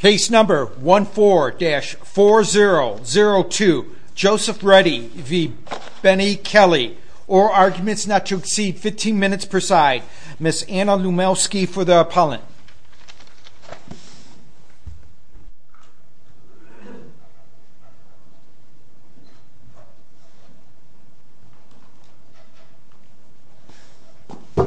Case number 14-4002. Joseph Reddy v. Bennie Kelly. All arguments not to exceed 15 minutes per side. Ms. Anna Lumelski for the appellant. Good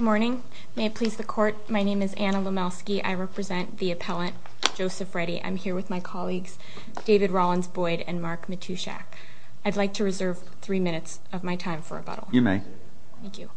morning. May it please the court, my name is Anna Lumelski. I represent the appellant Joseph Reddy. I'm here with my colleagues David Rollins-Boyd and Mark Matushak. I'd like to reserve three minutes of my time for rebuttal. You may. Thank you.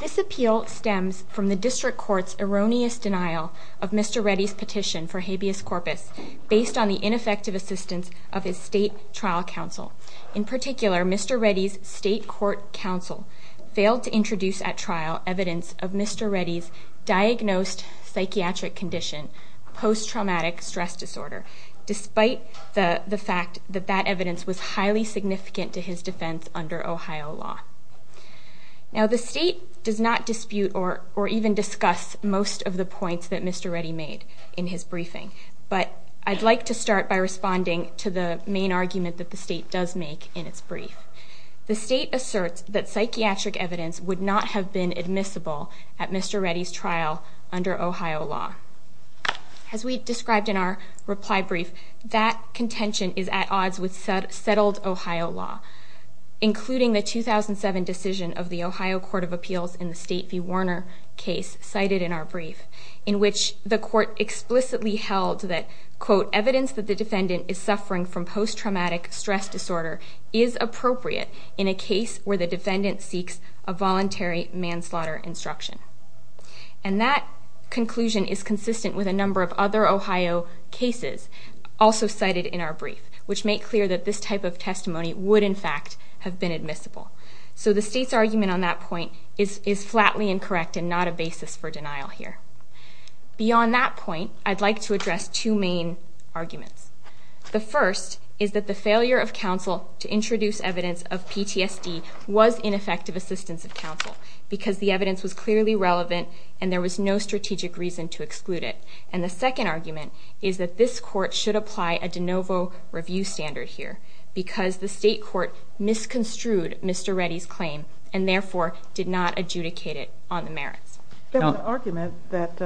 This appeal stems from the district court's erroneous denial of Mr. Reddy's petition for habeas corpus based on the ineffective assistance of his state trial counsel. In particular, Mr. Reddy's state court counsel failed to introduce at trial evidence of Mr. Reddy's diagnosed psychiatric condition, post-traumatic stress disorder, despite the fact that that evidence was highly significant to his defense under Ohio law. Now the state does not dispute or even discuss most of the points that Mr. Reddy made in his briefing, but I'd like to start by responding to the main argument that the state does make in its brief. The state asserts that psychiatric evidence would not have been admissible at Mr. Reddy's trial under Ohio law. As we described in our reply brief, that contention is at odds with settled Ohio law, including the 2007 decision of the Ohio Court of Appeals in the State v. Warner case cited in our brief, in which the court explicitly held that, quote, evidence that the defendant is suffering from post-traumatic stress disorder is appropriate in a case where the defendant seeks a voluntary manslaughter instruction. And that conclusion is consistent with a number of other Ohio cases also cited in our brief, which make clear that this type of testimony would, in fact, have been admissible. So the state's argument on that point is flatly incorrect and not a basis for denial here. Beyond that point, I'd like to address two main arguments. The first is that the failure of counsel to introduce evidence of PTSD was ineffective assistance of counsel because the evidence was clearly relevant and there was no strategic reason to exclude it. And the second argument is that this court should apply a de novo review standard here because the state court misconstrued Mr. Reddy's claim and therefore did not adjudicate it on the merits. There's an argument that,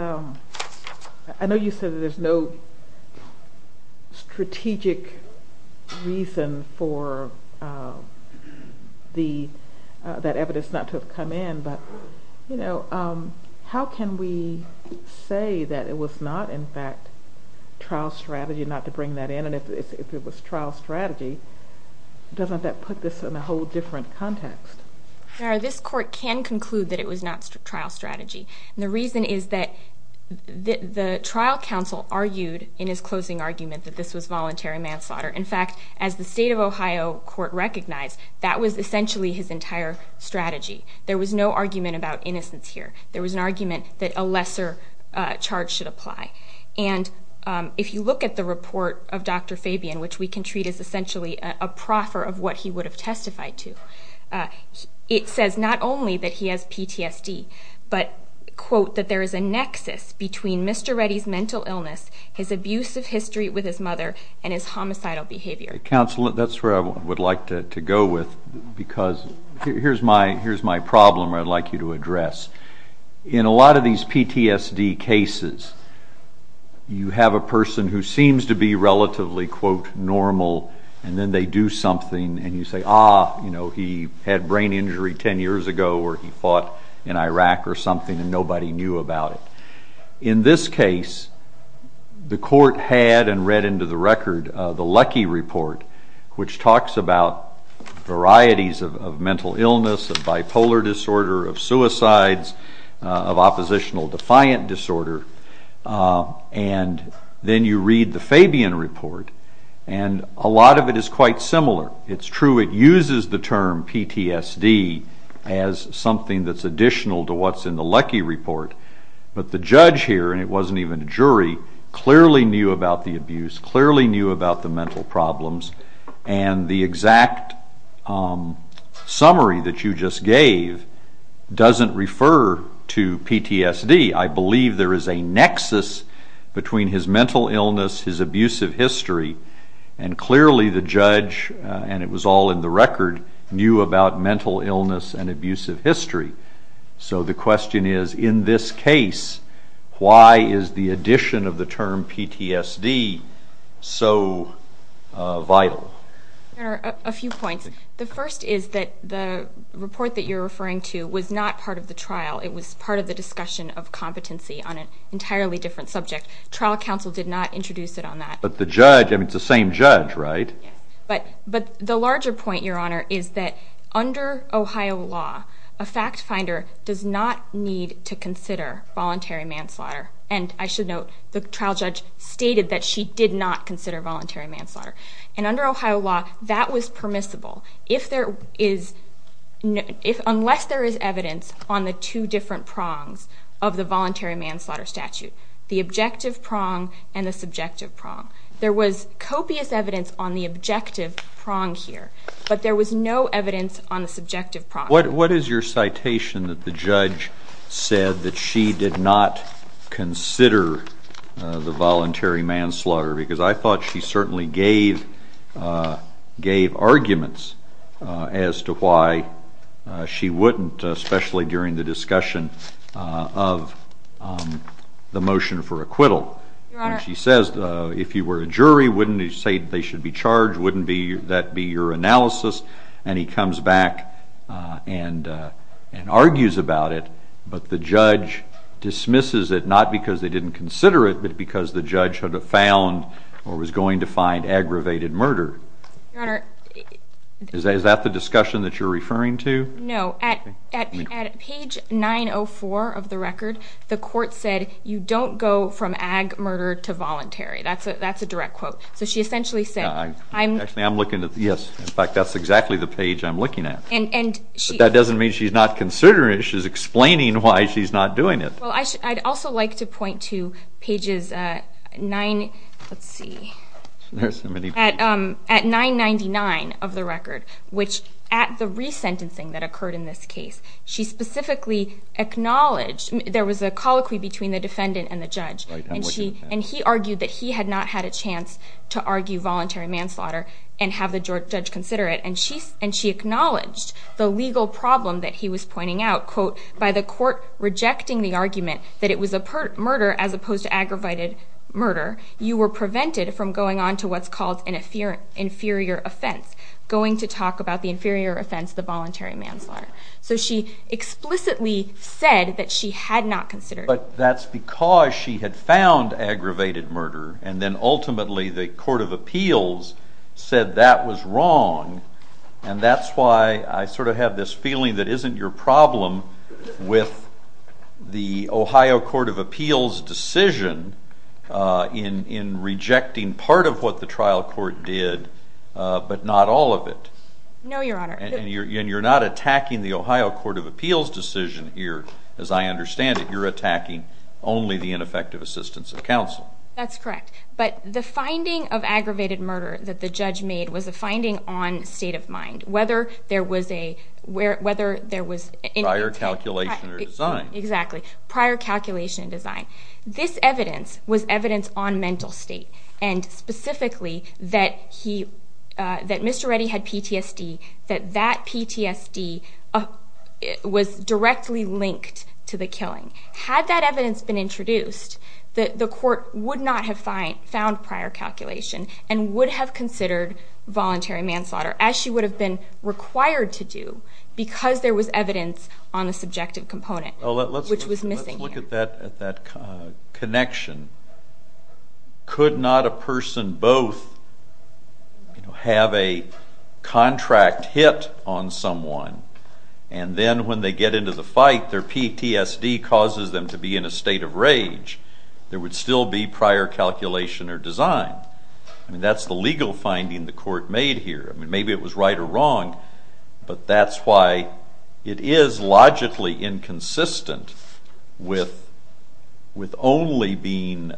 I know you said there's no strategic reason for that evidence not to have come in, but, you know, how can we say that it was not, in fact, trial strategy not to bring that in? And if it was trial strategy, doesn't that put this in a whole different context? This court can conclude that it was not trial strategy. And the reason is that the trial counsel argued in his closing argument that this was voluntary manslaughter. In fact, as the state of Ohio court recognized, that was essentially his entire strategy. There was no argument about innocence here. There was an argument that a lesser charge should apply. And if you look at the report of Dr. Fabian, which we can treat as essentially a proffer of what he would have testified to, it says not only that he has PTSD, but, quote, that there is a nexus between Mr. Reddy's mental illness, his abusive history with his mother, and his homicidal behavior. Counsel, that's where I would like to go with because here's my problem I'd like you to address. In a lot of these PTSD cases, you have a person who seems to be relatively, quote, normal, and then they do something and you say, ah, you know, he had brain injury 10 years ago or he fought in Iraq or something and nobody knew about it. In this case, the court had and read into the record the Lecky report, which talks about varieties of mental illness, of bipolar disorder, of suicides, of oppositional defiant disorder, and then you read the Fabian report and a lot of it is quite similar. It's true it uses the term PTSD as something that's additional to what's in the Lecky report, but the judge here, and it wasn't even a jury, clearly knew about the abuse, clearly knew about the mental problems, and the exact summary that you just gave doesn't refer to PTSD. I believe there is a nexus between his mental illness, his abusive history, and clearly the judge, and it was all in the record, knew about mental illness and abusive history. So the question is, in this case, why is the addition of the term PTSD so vital? A few points. The first is that the report that you're referring to was not part of the trial. It was part of the discussion of competency on an entirely different subject. Trial counsel did not introduce it on that. But the judge, I mean, it's the same judge, right? Yes, but the larger point, Your Honor, is that under Ohio law, a fact finder does not need to consider voluntary manslaughter, and I should note the trial judge stated that she did not consider voluntary manslaughter. And under Ohio law, that was permissible, unless there is evidence on the two different prongs of the voluntary manslaughter statute, the objective prong and the subjective prong. There was copious evidence on the objective prong here, but there was no evidence on the subjective prong. What is your citation that the judge said that she did not consider the voluntary manslaughter? Because I thought she certainly gave arguments as to why she wouldn't, especially during the discussion of the motion for acquittal. She says, if you were a jury, wouldn't you say they should be charged? Wouldn't that be your analysis? And he comes back and argues about it, but the judge dismisses it, not because they didn't consider it, but because the judge had found or was going to find aggravated murder. Is that the discussion that you're referring to? No. At page 904 of the record, the court said, you don't go from ag murder to voluntary. That's a direct quote. So she essentially said, I'm – Actually, I'm looking at – yes. In fact, that's exactly the page I'm looking at. And she – But that doesn't mean she's not considering it. She's explaining why she's not doing it. Well, I'd also like to point to pages 9 – let's see. There's so many pages. At 999 of the record, which at the resentencing that occurred in this case, she specifically acknowledged – there was a colloquy between the defendant and the judge. Right. I'm looking at that. And he argued that he had not had a chance to argue voluntary manslaughter and have the judge consider it. And she acknowledged the legal problem that he was pointing out, quote, by the court rejecting the argument that it was a murder as opposed to aggravated murder, you were prevented from going on to what's called an inferior offense, going to talk about the inferior offense, the voluntary manslaughter. So she explicitly said that she had not considered it. But that's because she had found aggravated murder, and then ultimately the court of appeals said that was wrong. And that's why I sort of have this feeling that isn't your problem with the Ohio court of appeals decision in rejecting part of what the trial court did, but not all of it. No, Your Honor. And you're not attacking the Ohio court of appeals decision here, as I understand it. You're attacking only the ineffective assistance of counsel. That's correct. But the finding of aggravated murder that the judge made was a finding on state of mind, whether there was a – whether there was – Prior calculation or design. Exactly. Prior calculation and design. This evidence was evidence on mental state, and specifically that he – that Mr. Reddy had PTSD, that that PTSD was directly linked to the killing. Had that evidence been introduced, the court would not have found prior calculation and would have considered voluntary manslaughter, as she would have been required to do because there was evidence on the subjective component, which was missing here. That connection. Could not a person both have a contract hit on someone, and then when they get into the fight, their PTSD causes them to be in a state of rage? There would still be prior calculation or design. I mean, that's the legal finding the court made here. I mean, maybe it was right or wrong, but that's why it is logically inconsistent with only being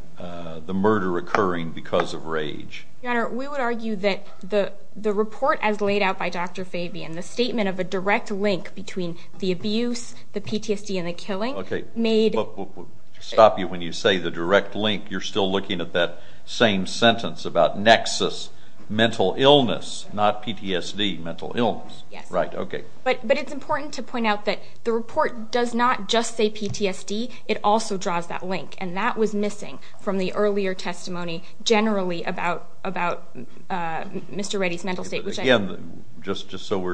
the murder occurring because of rage. Your Honor, we would argue that the report as laid out by Dr. Fabian, the statement of a direct link between the abuse, the PTSD, and the killing made – Stop you when you say the direct link. You're still looking at that same sentence about nexus, mental illness, not PTSD, mental illness. Yes. Right, okay. But it's important to point out that the report does not just say PTSD. It also draws that link, and that was missing from the earlier testimony generally about Mr. Reddy's mental state, which I – Again, just so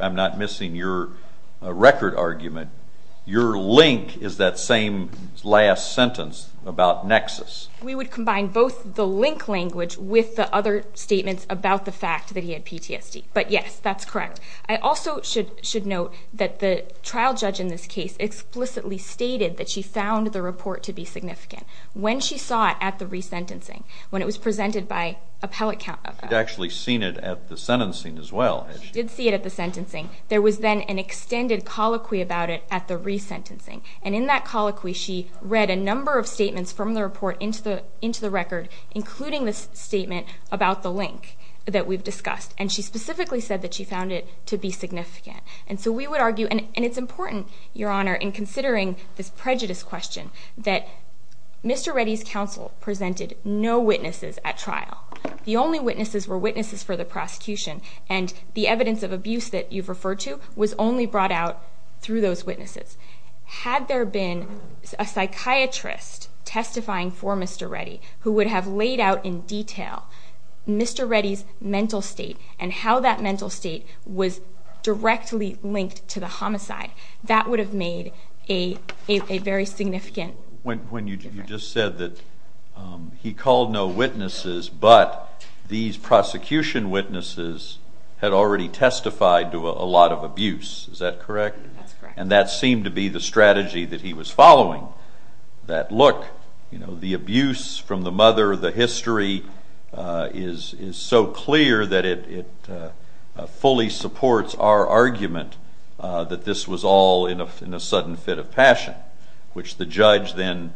I'm not missing your record argument, your link is that same last sentence about nexus. We would combine both the link language with the other statements about the fact that he had PTSD, but yes, that's correct. I also should note that the trial judge in this case explicitly stated that she found the report to be significant. When she saw it at the resentencing, when it was presented by appellate – She had actually seen it at the sentencing as well. She did see it at the sentencing. There was then an extended colloquy about it at the resentencing, and in that colloquy, she read a number of statements from the report into the record, including the statement about the link that we've discussed, and she specifically said that she found it to be significant. And so we would argue – and it's important, Your Honor, in considering this prejudice question, that Mr. Reddy's counsel presented no witnesses at trial. The only witnesses were witnesses for the prosecution, and the evidence of abuse that you've referred to was only brought out through those witnesses. Had there been a psychiatrist testifying for Mr. Reddy who would have laid out in detail Mr. Reddy's mental state and how that mental state was directly linked to the homicide, that would have made a very significant difference. When you just said that he called no witnesses, but these prosecution witnesses had already testified to a lot of abuse, is that correct? That's correct. And that seemed to be the strategy that he was following, that look, the abuse from the mother, the history, is so clear that it fully supports our argument that this was all in a sudden fit of passion, which the judge then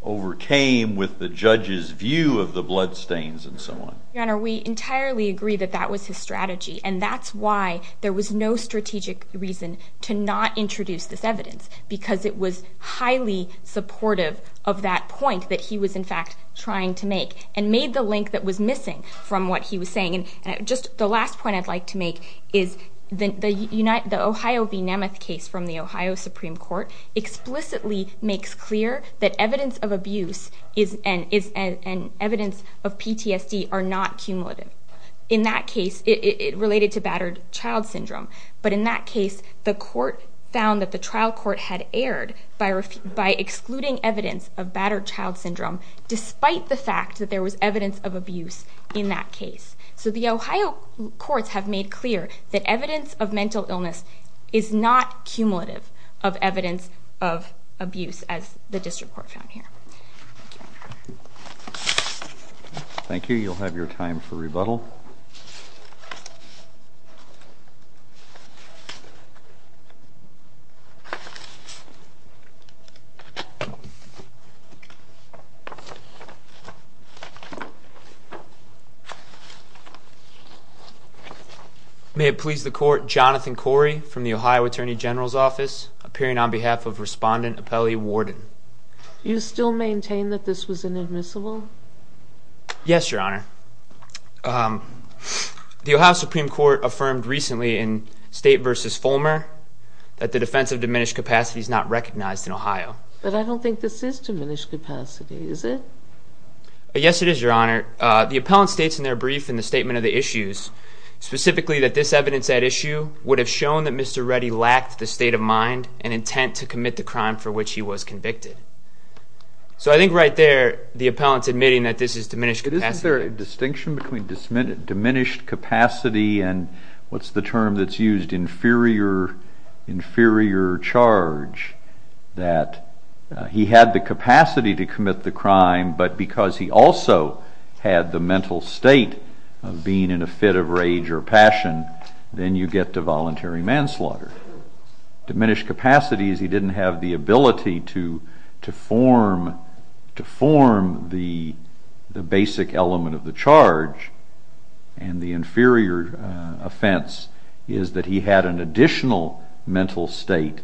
overcame with the judge's view of the bloodstains and so on. Your Honor, we entirely agree that that was his strategy, and that's why there was no strategic reason to not introduce this evidence, because it was highly supportive of that point that he was in fact trying to make, and made the link that was missing from what he was saying. And just the last point I'd like to make is the Ohio v. Nemeth case from the Ohio Supreme Court explicitly makes clear that evidence of abuse and evidence of PTSD are not cumulative. In that case, it related to battered child syndrome. But in that case, the court found that the trial court had erred by excluding evidence of battered child syndrome despite the fact that there was evidence of abuse in that case. So the Ohio courts have made clear that evidence of mental illness is not cumulative of evidence of abuse, as the district court found here. Thank you. You'll have your time for rebuttal. May it please the court, Jonathan Corey from the Ohio Attorney General's Office, appearing on behalf of Respondent Apelli Warden. Do you still maintain that this was inadmissible? Yes, Your Honor. The Ohio Supreme Court affirmed recently in State v. Fulmer that the defense of diminished capacity is not recognized in Ohio. But I don't think this is diminished capacity, is it? Yes, it is, Your Honor. The appellant states in their brief in the statement of the issues specifically that this evidence at issue would have shown that Mr. Reddy lacked the state of mind and intent to commit the crime for which he was convicted. So I think right there, the appellant's admitting that this is diminished capacity. Isn't there a distinction between diminished capacity and what's the term that's used, inferior charge, that he had the capacity to commit the crime, but because he also had the mental state of being in a fit of rage or passion, then you get to voluntary manslaughter? Diminished capacity is he didn't have the ability to form the basic element of the charge, and the inferior offense is that he had an additional mental state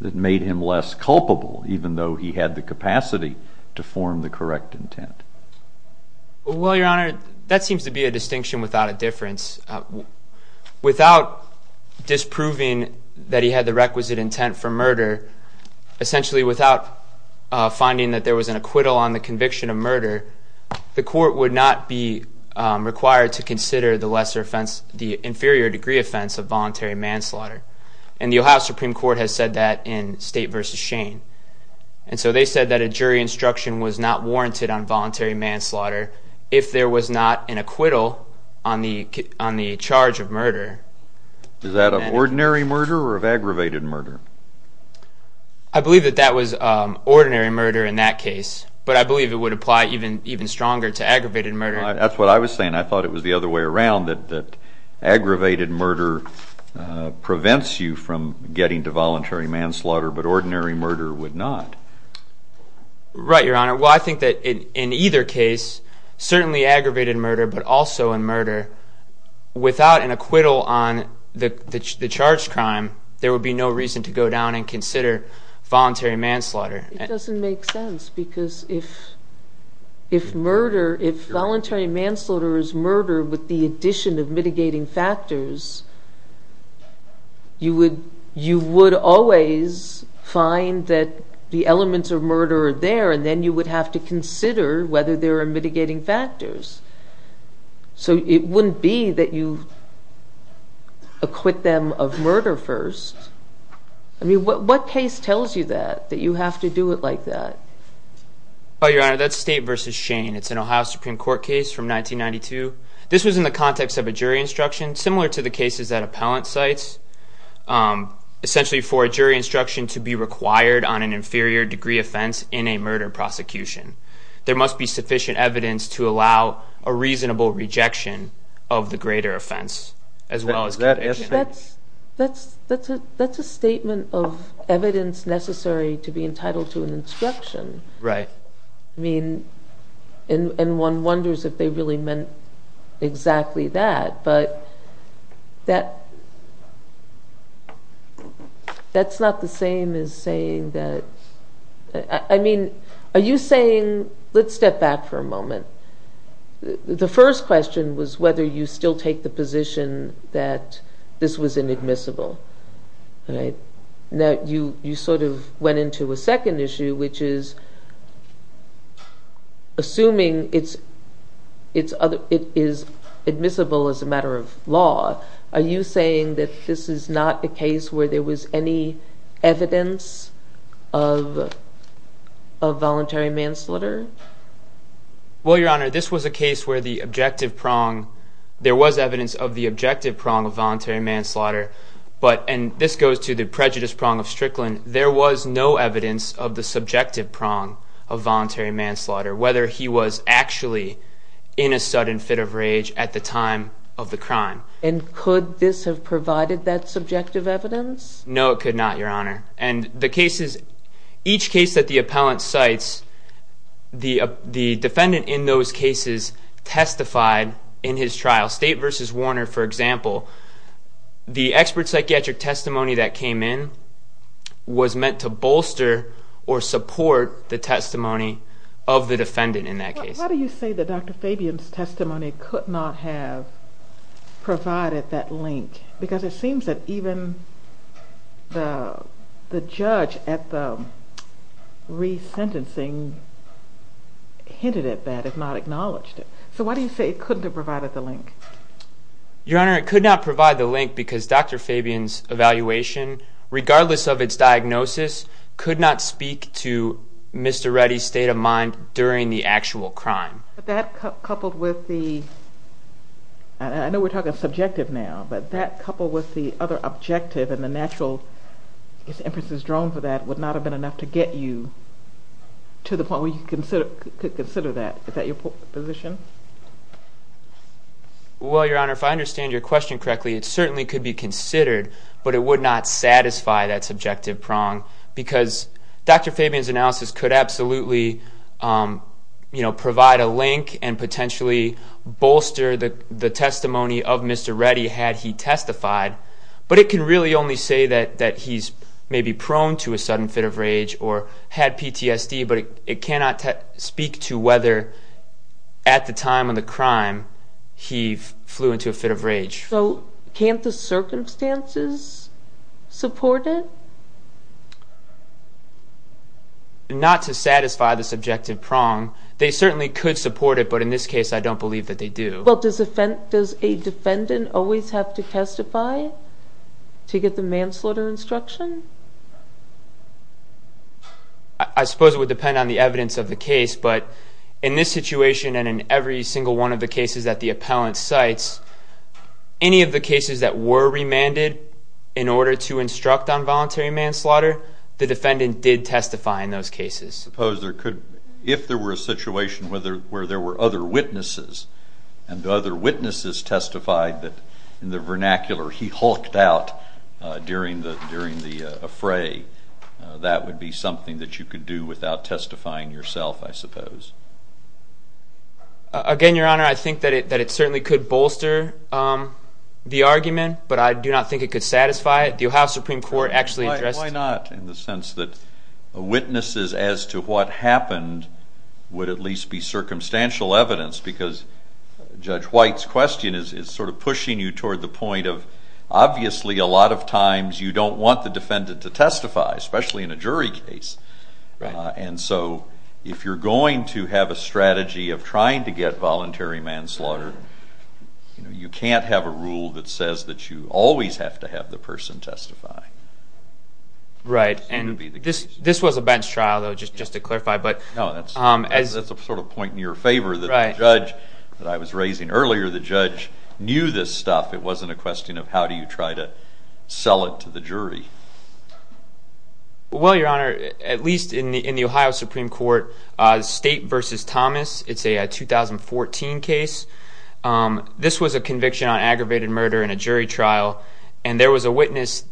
that made him less culpable, even though he had the capacity to form the correct intent. Well, Your Honor, that seems to be a distinction without a difference. Without disproving that he had the requisite intent for murder, essentially without finding that there was an acquittal on the conviction of murder, the court would not be required to consider the inferior degree offense of voluntary manslaughter, and the Ohio Supreme Court has said that in State v. Shane. And so they said that a jury instruction was not warranted on voluntary manslaughter if there was not an acquittal on the charge of murder. Is that of ordinary murder or of aggravated murder? I believe that that was ordinary murder in that case, but I believe it would apply even stronger to aggravated murder. That's what I was saying. I thought it was the other way around, that aggravated murder prevents you from getting to voluntary manslaughter, but ordinary murder would not. Right, Your Honor. Well, I think that in either case, certainly aggravated murder, but also in murder, without an acquittal on the charged crime, there would be no reason to go down and consider voluntary manslaughter. It doesn't make sense because if voluntary manslaughter is murder with the addition of mitigating factors, you would always find that the elements of murder are there, and then you would have to consider whether there are mitigating factors. So it wouldn't be that you acquit them of murder first. I mean, what case tells you that, that you have to do it like that? Your Honor, that's State v. Shane. It's an Ohio Supreme Court case from 1992. This was in the context of a jury instruction, similar to the cases that appellant cites, essentially for a jury instruction to be required on an inferior degree offense in a murder prosecution. There must be sufficient evidence to allow a reasonable rejection of the greater offense as well as conviction. That's a statement of evidence necessary to be entitled to an instruction. Right. I mean, and one wonders if they really meant exactly that, but that's not the same as saying that – I mean, are you saying – let's step back for a moment. The first question was whether you still take the position that this was inadmissible. Now, you sort of went into a second issue, which is, assuming it is admissible as a matter of law, are you saying that this is not a case where there was any evidence of voluntary manslaughter? Well, Your Honor, this was a case where the objective prong – there was evidence of the objective prong of voluntary manslaughter, but – and this goes to the prejudice prong of Strickland – there was no evidence of the subjective prong of voluntary manslaughter, whether he was actually in a sudden fit of rage at the time of the crime. And could this have provided that subjective evidence? No, it could not, Your Honor. And the cases – each case that the appellant cites, the defendant in those cases testified in his trial. State v. Warner, for example, the expert psychiatric testimony that came in was meant to bolster or support the testimony of the defendant in that case. Why do you say that Dr. Fabian's testimony could not have provided that link? Because it seems that even the judge at the resentencing hinted at that, if not acknowledged it. So why do you say it couldn't have provided the link? Your Honor, it could not provide the link because Dr. Fabian's evaluation, regardless of its diagnosis, could not speak to Mr. Reddy's state of mind during the actual crime. But that coupled with the – I know we're talking subjective now, but that coupled with the other objective and the natural inferences drawn from that would not have been enough to get you to the point where you could consider that. Is that your position? Well, Your Honor, if I understand your question correctly, it certainly could be considered, but it would not satisfy that subjective prong because Dr. Fabian's analysis could absolutely provide a link and potentially bolster the testimony of Mr. Reddy had he testified. But it can really only say that he's maybe prone to a sudden fit of rage or had PTSD, but it cannot speak to whether at the time of the crime he flew into a fit of rage. So can't the circumstances support it? Not to satisfy the subjective prong. They certainly could support it, but in this case I don't believe that they do. Well, does a defendant always have to testify to get the manslaughter instruction? I suppose it would depend on the evidence of the case, but in this situation and in every single one of the cases that the appellant cites, any of the cases that were remanded in order to instruct on voluntary manslaughter, the defendant did testify in those cases. Suppose there could be, if there were a situation where there were other witnesses and the other witnesses testified that in the vernacular he hulked out during the fray, that would be something that you could do without testifying yourself, I suppose. Again, Your Honor, I think that it certainly could bolster the argument, but I do not think it could satisfy it. The Ohio Supreme Court actually addressed it. Why not, in the sense that witnesses as to what happened would at least be circumstantial evidence, because Judge White's question is sort of pushing you toward the point of, obviously a lot of times you don't want the defendant to testify, especially in a jury case. And so if you're going to have a strategy of trying to get voluntary manslaughter, you can't have a rule that says that you always have to have the person testify. Right, and this was a bench trial, though, just to clarify. No, that's a sort of point in your favor that the judge that I was raising earlier, the judge knew this stuff. It wasn't a question of how do you try to sell it to the jury. Well, Your Honor, at least in the Ohio Supreme Court, State v. Thomas, it's a 2014 case. This was a conviction on aggravated murder in a jury trial, and there was a witness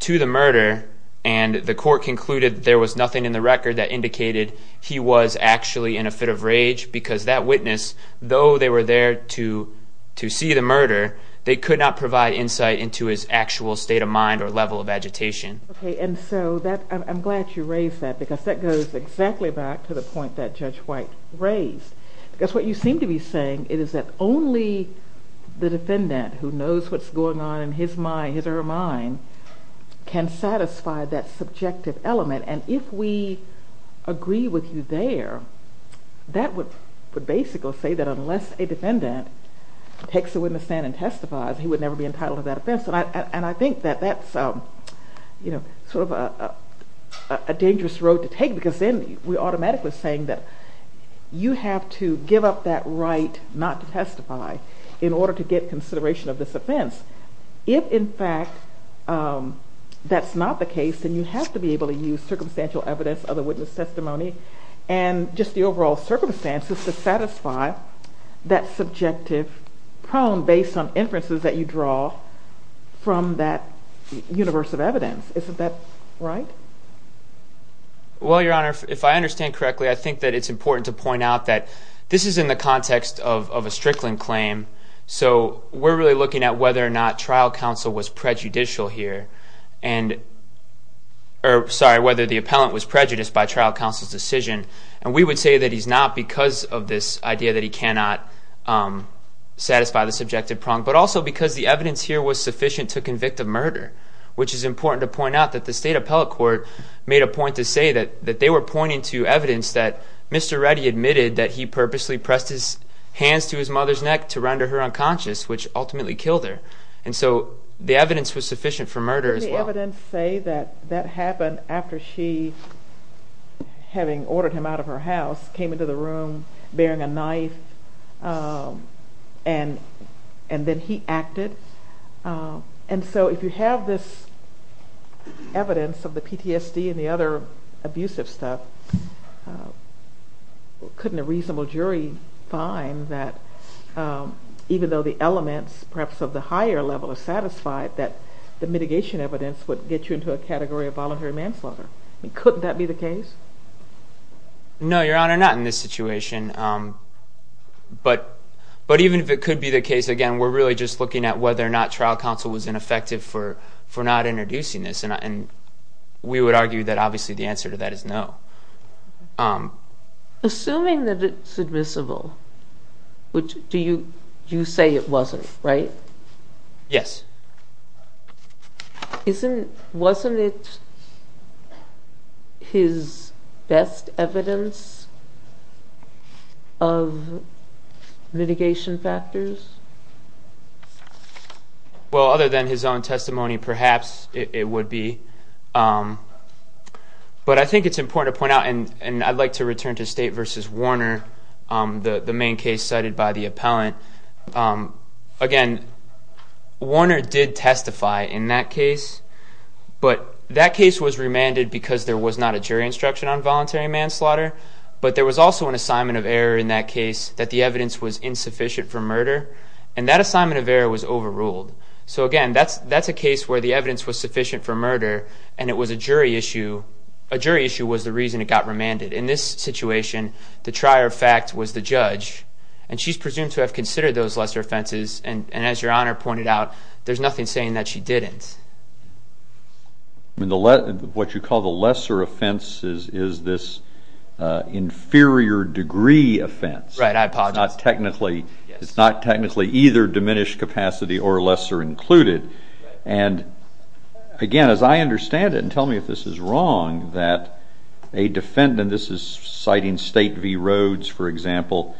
to the murder, and the court concluded there was nothing in the record that indicated he was actually in a fit of rage, because that witness, though they were there to see the murder, they could not provide insight into his actual state of mind or level of agitation. Okay, and so I'm glad you raised that, because that goes exactly back to the point that Judge White raised. Because what you seem to be saying is that only the defendant who knows what's going on in his mind, his or her mind, can satisfy that subjective element. And if we agree with you there, that would basically say that unless a defendant takes a witness stand and testifies, he would never be entitled to that offense. And I think that that's sort of a dangerous road to take, because then we're automatically saying that you have to give up that right not to testify in order to get consideration of this offense. If, in fact, that's not the case, then you have to be able to use circumstantial evidence, other witness testimony, and just the overall circumstances to satisfy that subjective prong based on inferences that you draw from that universe of evidence. Isn't that right? Well, Your Honor, if I understand correctly, I think that it's important to point out that this is in the context of a Strickland claim, so we're really looking at whether or not the appellant was prejudiced by trial counsel's decision. And we would say that he's not because of this idea that he cannot satisfy the subjective prong, but also because the evidence here was sufficient to convict of murder, which is important to point out that the state appellate court made a point to say that they were pointing to evidence that Mr. Reddy admitted that he purposely pressed his hands to his mother's neck to render her unconscious, which ultimately killed her. And so the evidence was sufficient for murder as well. Didn't the evidence say that that happened after she, having ordered him out of her house, came into the room bearing a knife, and then he acted? And so if you have this evidence of the PTSD and the other abusive stuff, couldn't a reasonable jury find that even though the elements perhaps of the higher level are satisfied, that the mitigation evidence would get you into a category of voluntary manslaughter? I mean, couldn't that be the case? No, Your Honor, not in this situation. But even if it could be the case, again, we're really just looking at whether or not trial counsel was ineffective for not introducing this, and we would argue that obviously the answer to that is no. Assuming that it's admissible, you say it wasn't, right? Yes. Wasn't it his best evidence of mitigation factors? Well, other than his own testimony, perhaps it would be. But I think it's important to point out, and I'd like to return to State v. Warner, the main case cited by the appellant. Again, Warner did testify in that case, but that case was remanded because there was not a jury instruction on voluntary manslaughter, but there was also an assignment of error in that case that the evidence was insufficient for murder, and that assignment of error was overruled. So again, that's a case where the evidence was sufficient for murder, and it was a jury issue. A jury issue was the reason it got remanded. In this situation, the trier of fact was the judge, and she's presumed to have considered those lesser offenses, and as Your Honor pointed out, there's nothing saying that she didn't. What you call the lesser offense is this inferior degree offense. Right. I apologize. It's not technically either diminished capacity or lesser included. And again, as I understand it, and tell me if this is wrong, that a defendant, this is citing State v. Rhodes, for example,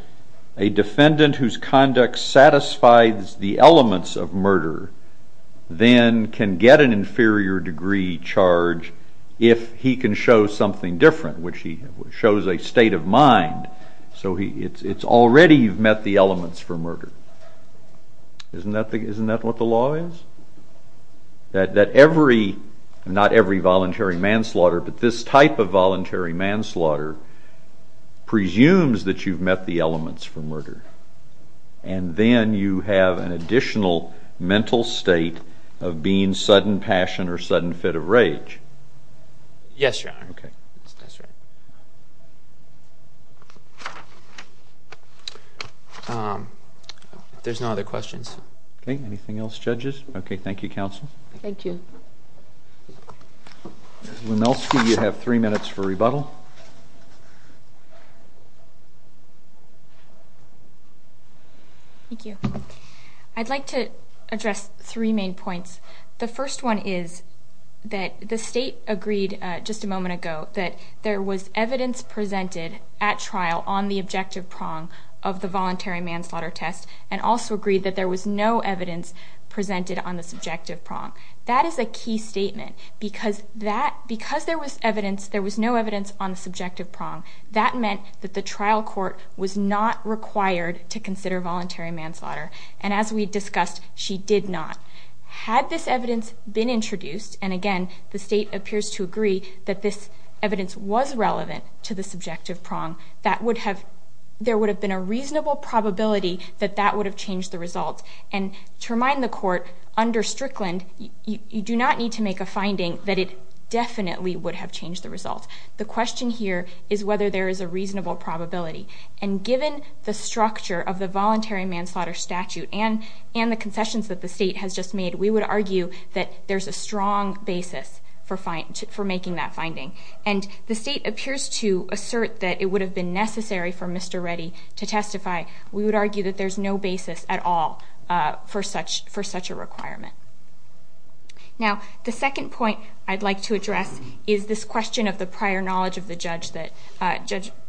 a defendant whose conduct satisfies the elements of murder then can get an inferior degree charge if he can show something different, which he shows a state of mind. So it's already you've met the elements for murder. Isn't that what the law is? That every, not every voluntary manslaughter, but this type of voluntary manslaughter presumes that you've met the elements for murder, and then you have an additional mental state of being sudden passion or sudden fit of rage. Yes, Your Honor. Okay. If there's no other questions. Okay. Anything else, judges? Okay. Thank you, counsel. Thank you. Ms. Lemelski, you have three minutes for rebuttal. Thank you. I'd like to address three main points. The first one is that the State agreed just a moment ago that there was evidence presented at trial on the objective prong of the voluntary manslaughter test and also agreed that there was no evidence presented on the subjective prong. That is a key statement because there was no evidence on the subjective prong. That meant that the trial court was not required to consider voluntary manslaughter, and as we discussed, she did not. Had this evidence been introduced, and again the State appears to agree that this evidence was relevant to the subjective prong, there would have been a reasonable probability that that would have changed the results, and to remind the Court, under Strickland, you do not need to make a finding that it definitely would have changed the results. The question here is whether there is a reasonable probability, and given the structure of the voluntary manslaughter statute and the concessions that the State has just made, we would argue that there's a strong basis for making that finding, and the State appears to assert that it would have been necessary for Mr. Reddy to testify. We would argue that there's no basis at all for such a requirement. Now, the second point I'd like to address is this question of the prior knowledge of the judge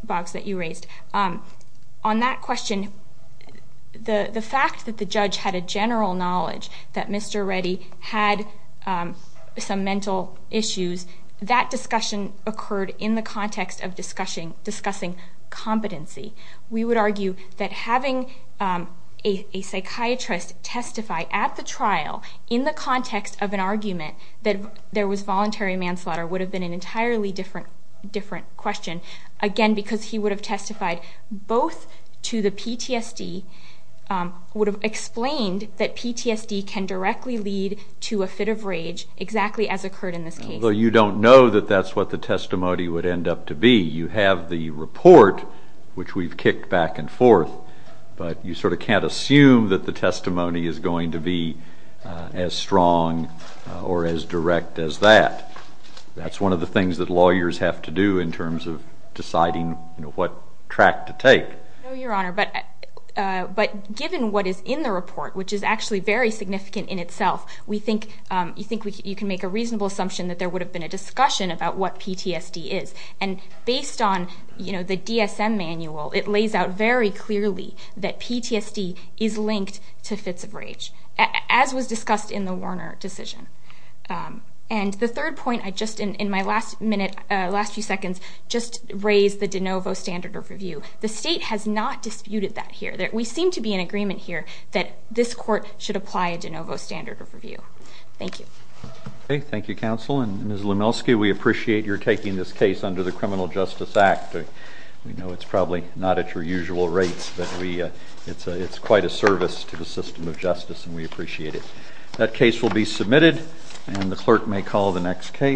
box that you raised. On that question, the fact that the judge had a general knowledge that Mr. Reddy had some mental issues, that discussion occurred in the context of discussing competency. We would argue that having a psychiatrist testify at the trial in the context of an argument that there was voluntary manslaughter would have been an entirely different question, again because he would have testified both to the PTSD, would have explained that PTSD can directly lead to a fit of rage, exactly as occurred in this case. Although you don't know that that's what the testimony would end up to be, you have the report, which we've kicked back and forth, but you sort of can't assume that the testimony is going to be as strong or as direct as that. That's one of the things that lawyers have to do in terms of deciding what track to take. No, Your Honor, but given what is in the report, which is actually very significant in itself, we think you can make a reasonable assumption that there would have been a discussion about what PTSD is. And based on the DSM manual, it lays out very clearly that PTSD is linked to fits of rage, as was discussed in the Warner decision. And the third point I just, in my last minute, last few seconds, just raised the de novo standard of review. The state has not disputed that here. We seem to be in agreement here that this court should apply a de novo standard of review. Thank you. Okay, thank you, Counsel. And Ms. Lemelski, we appreciate your taking this case under the Criminal Justice Act. We know it's probably not at your usual rates, but it's quite a service to the system of justice, and we appreciate it. That case will be submitted, and the clerk may call the next case.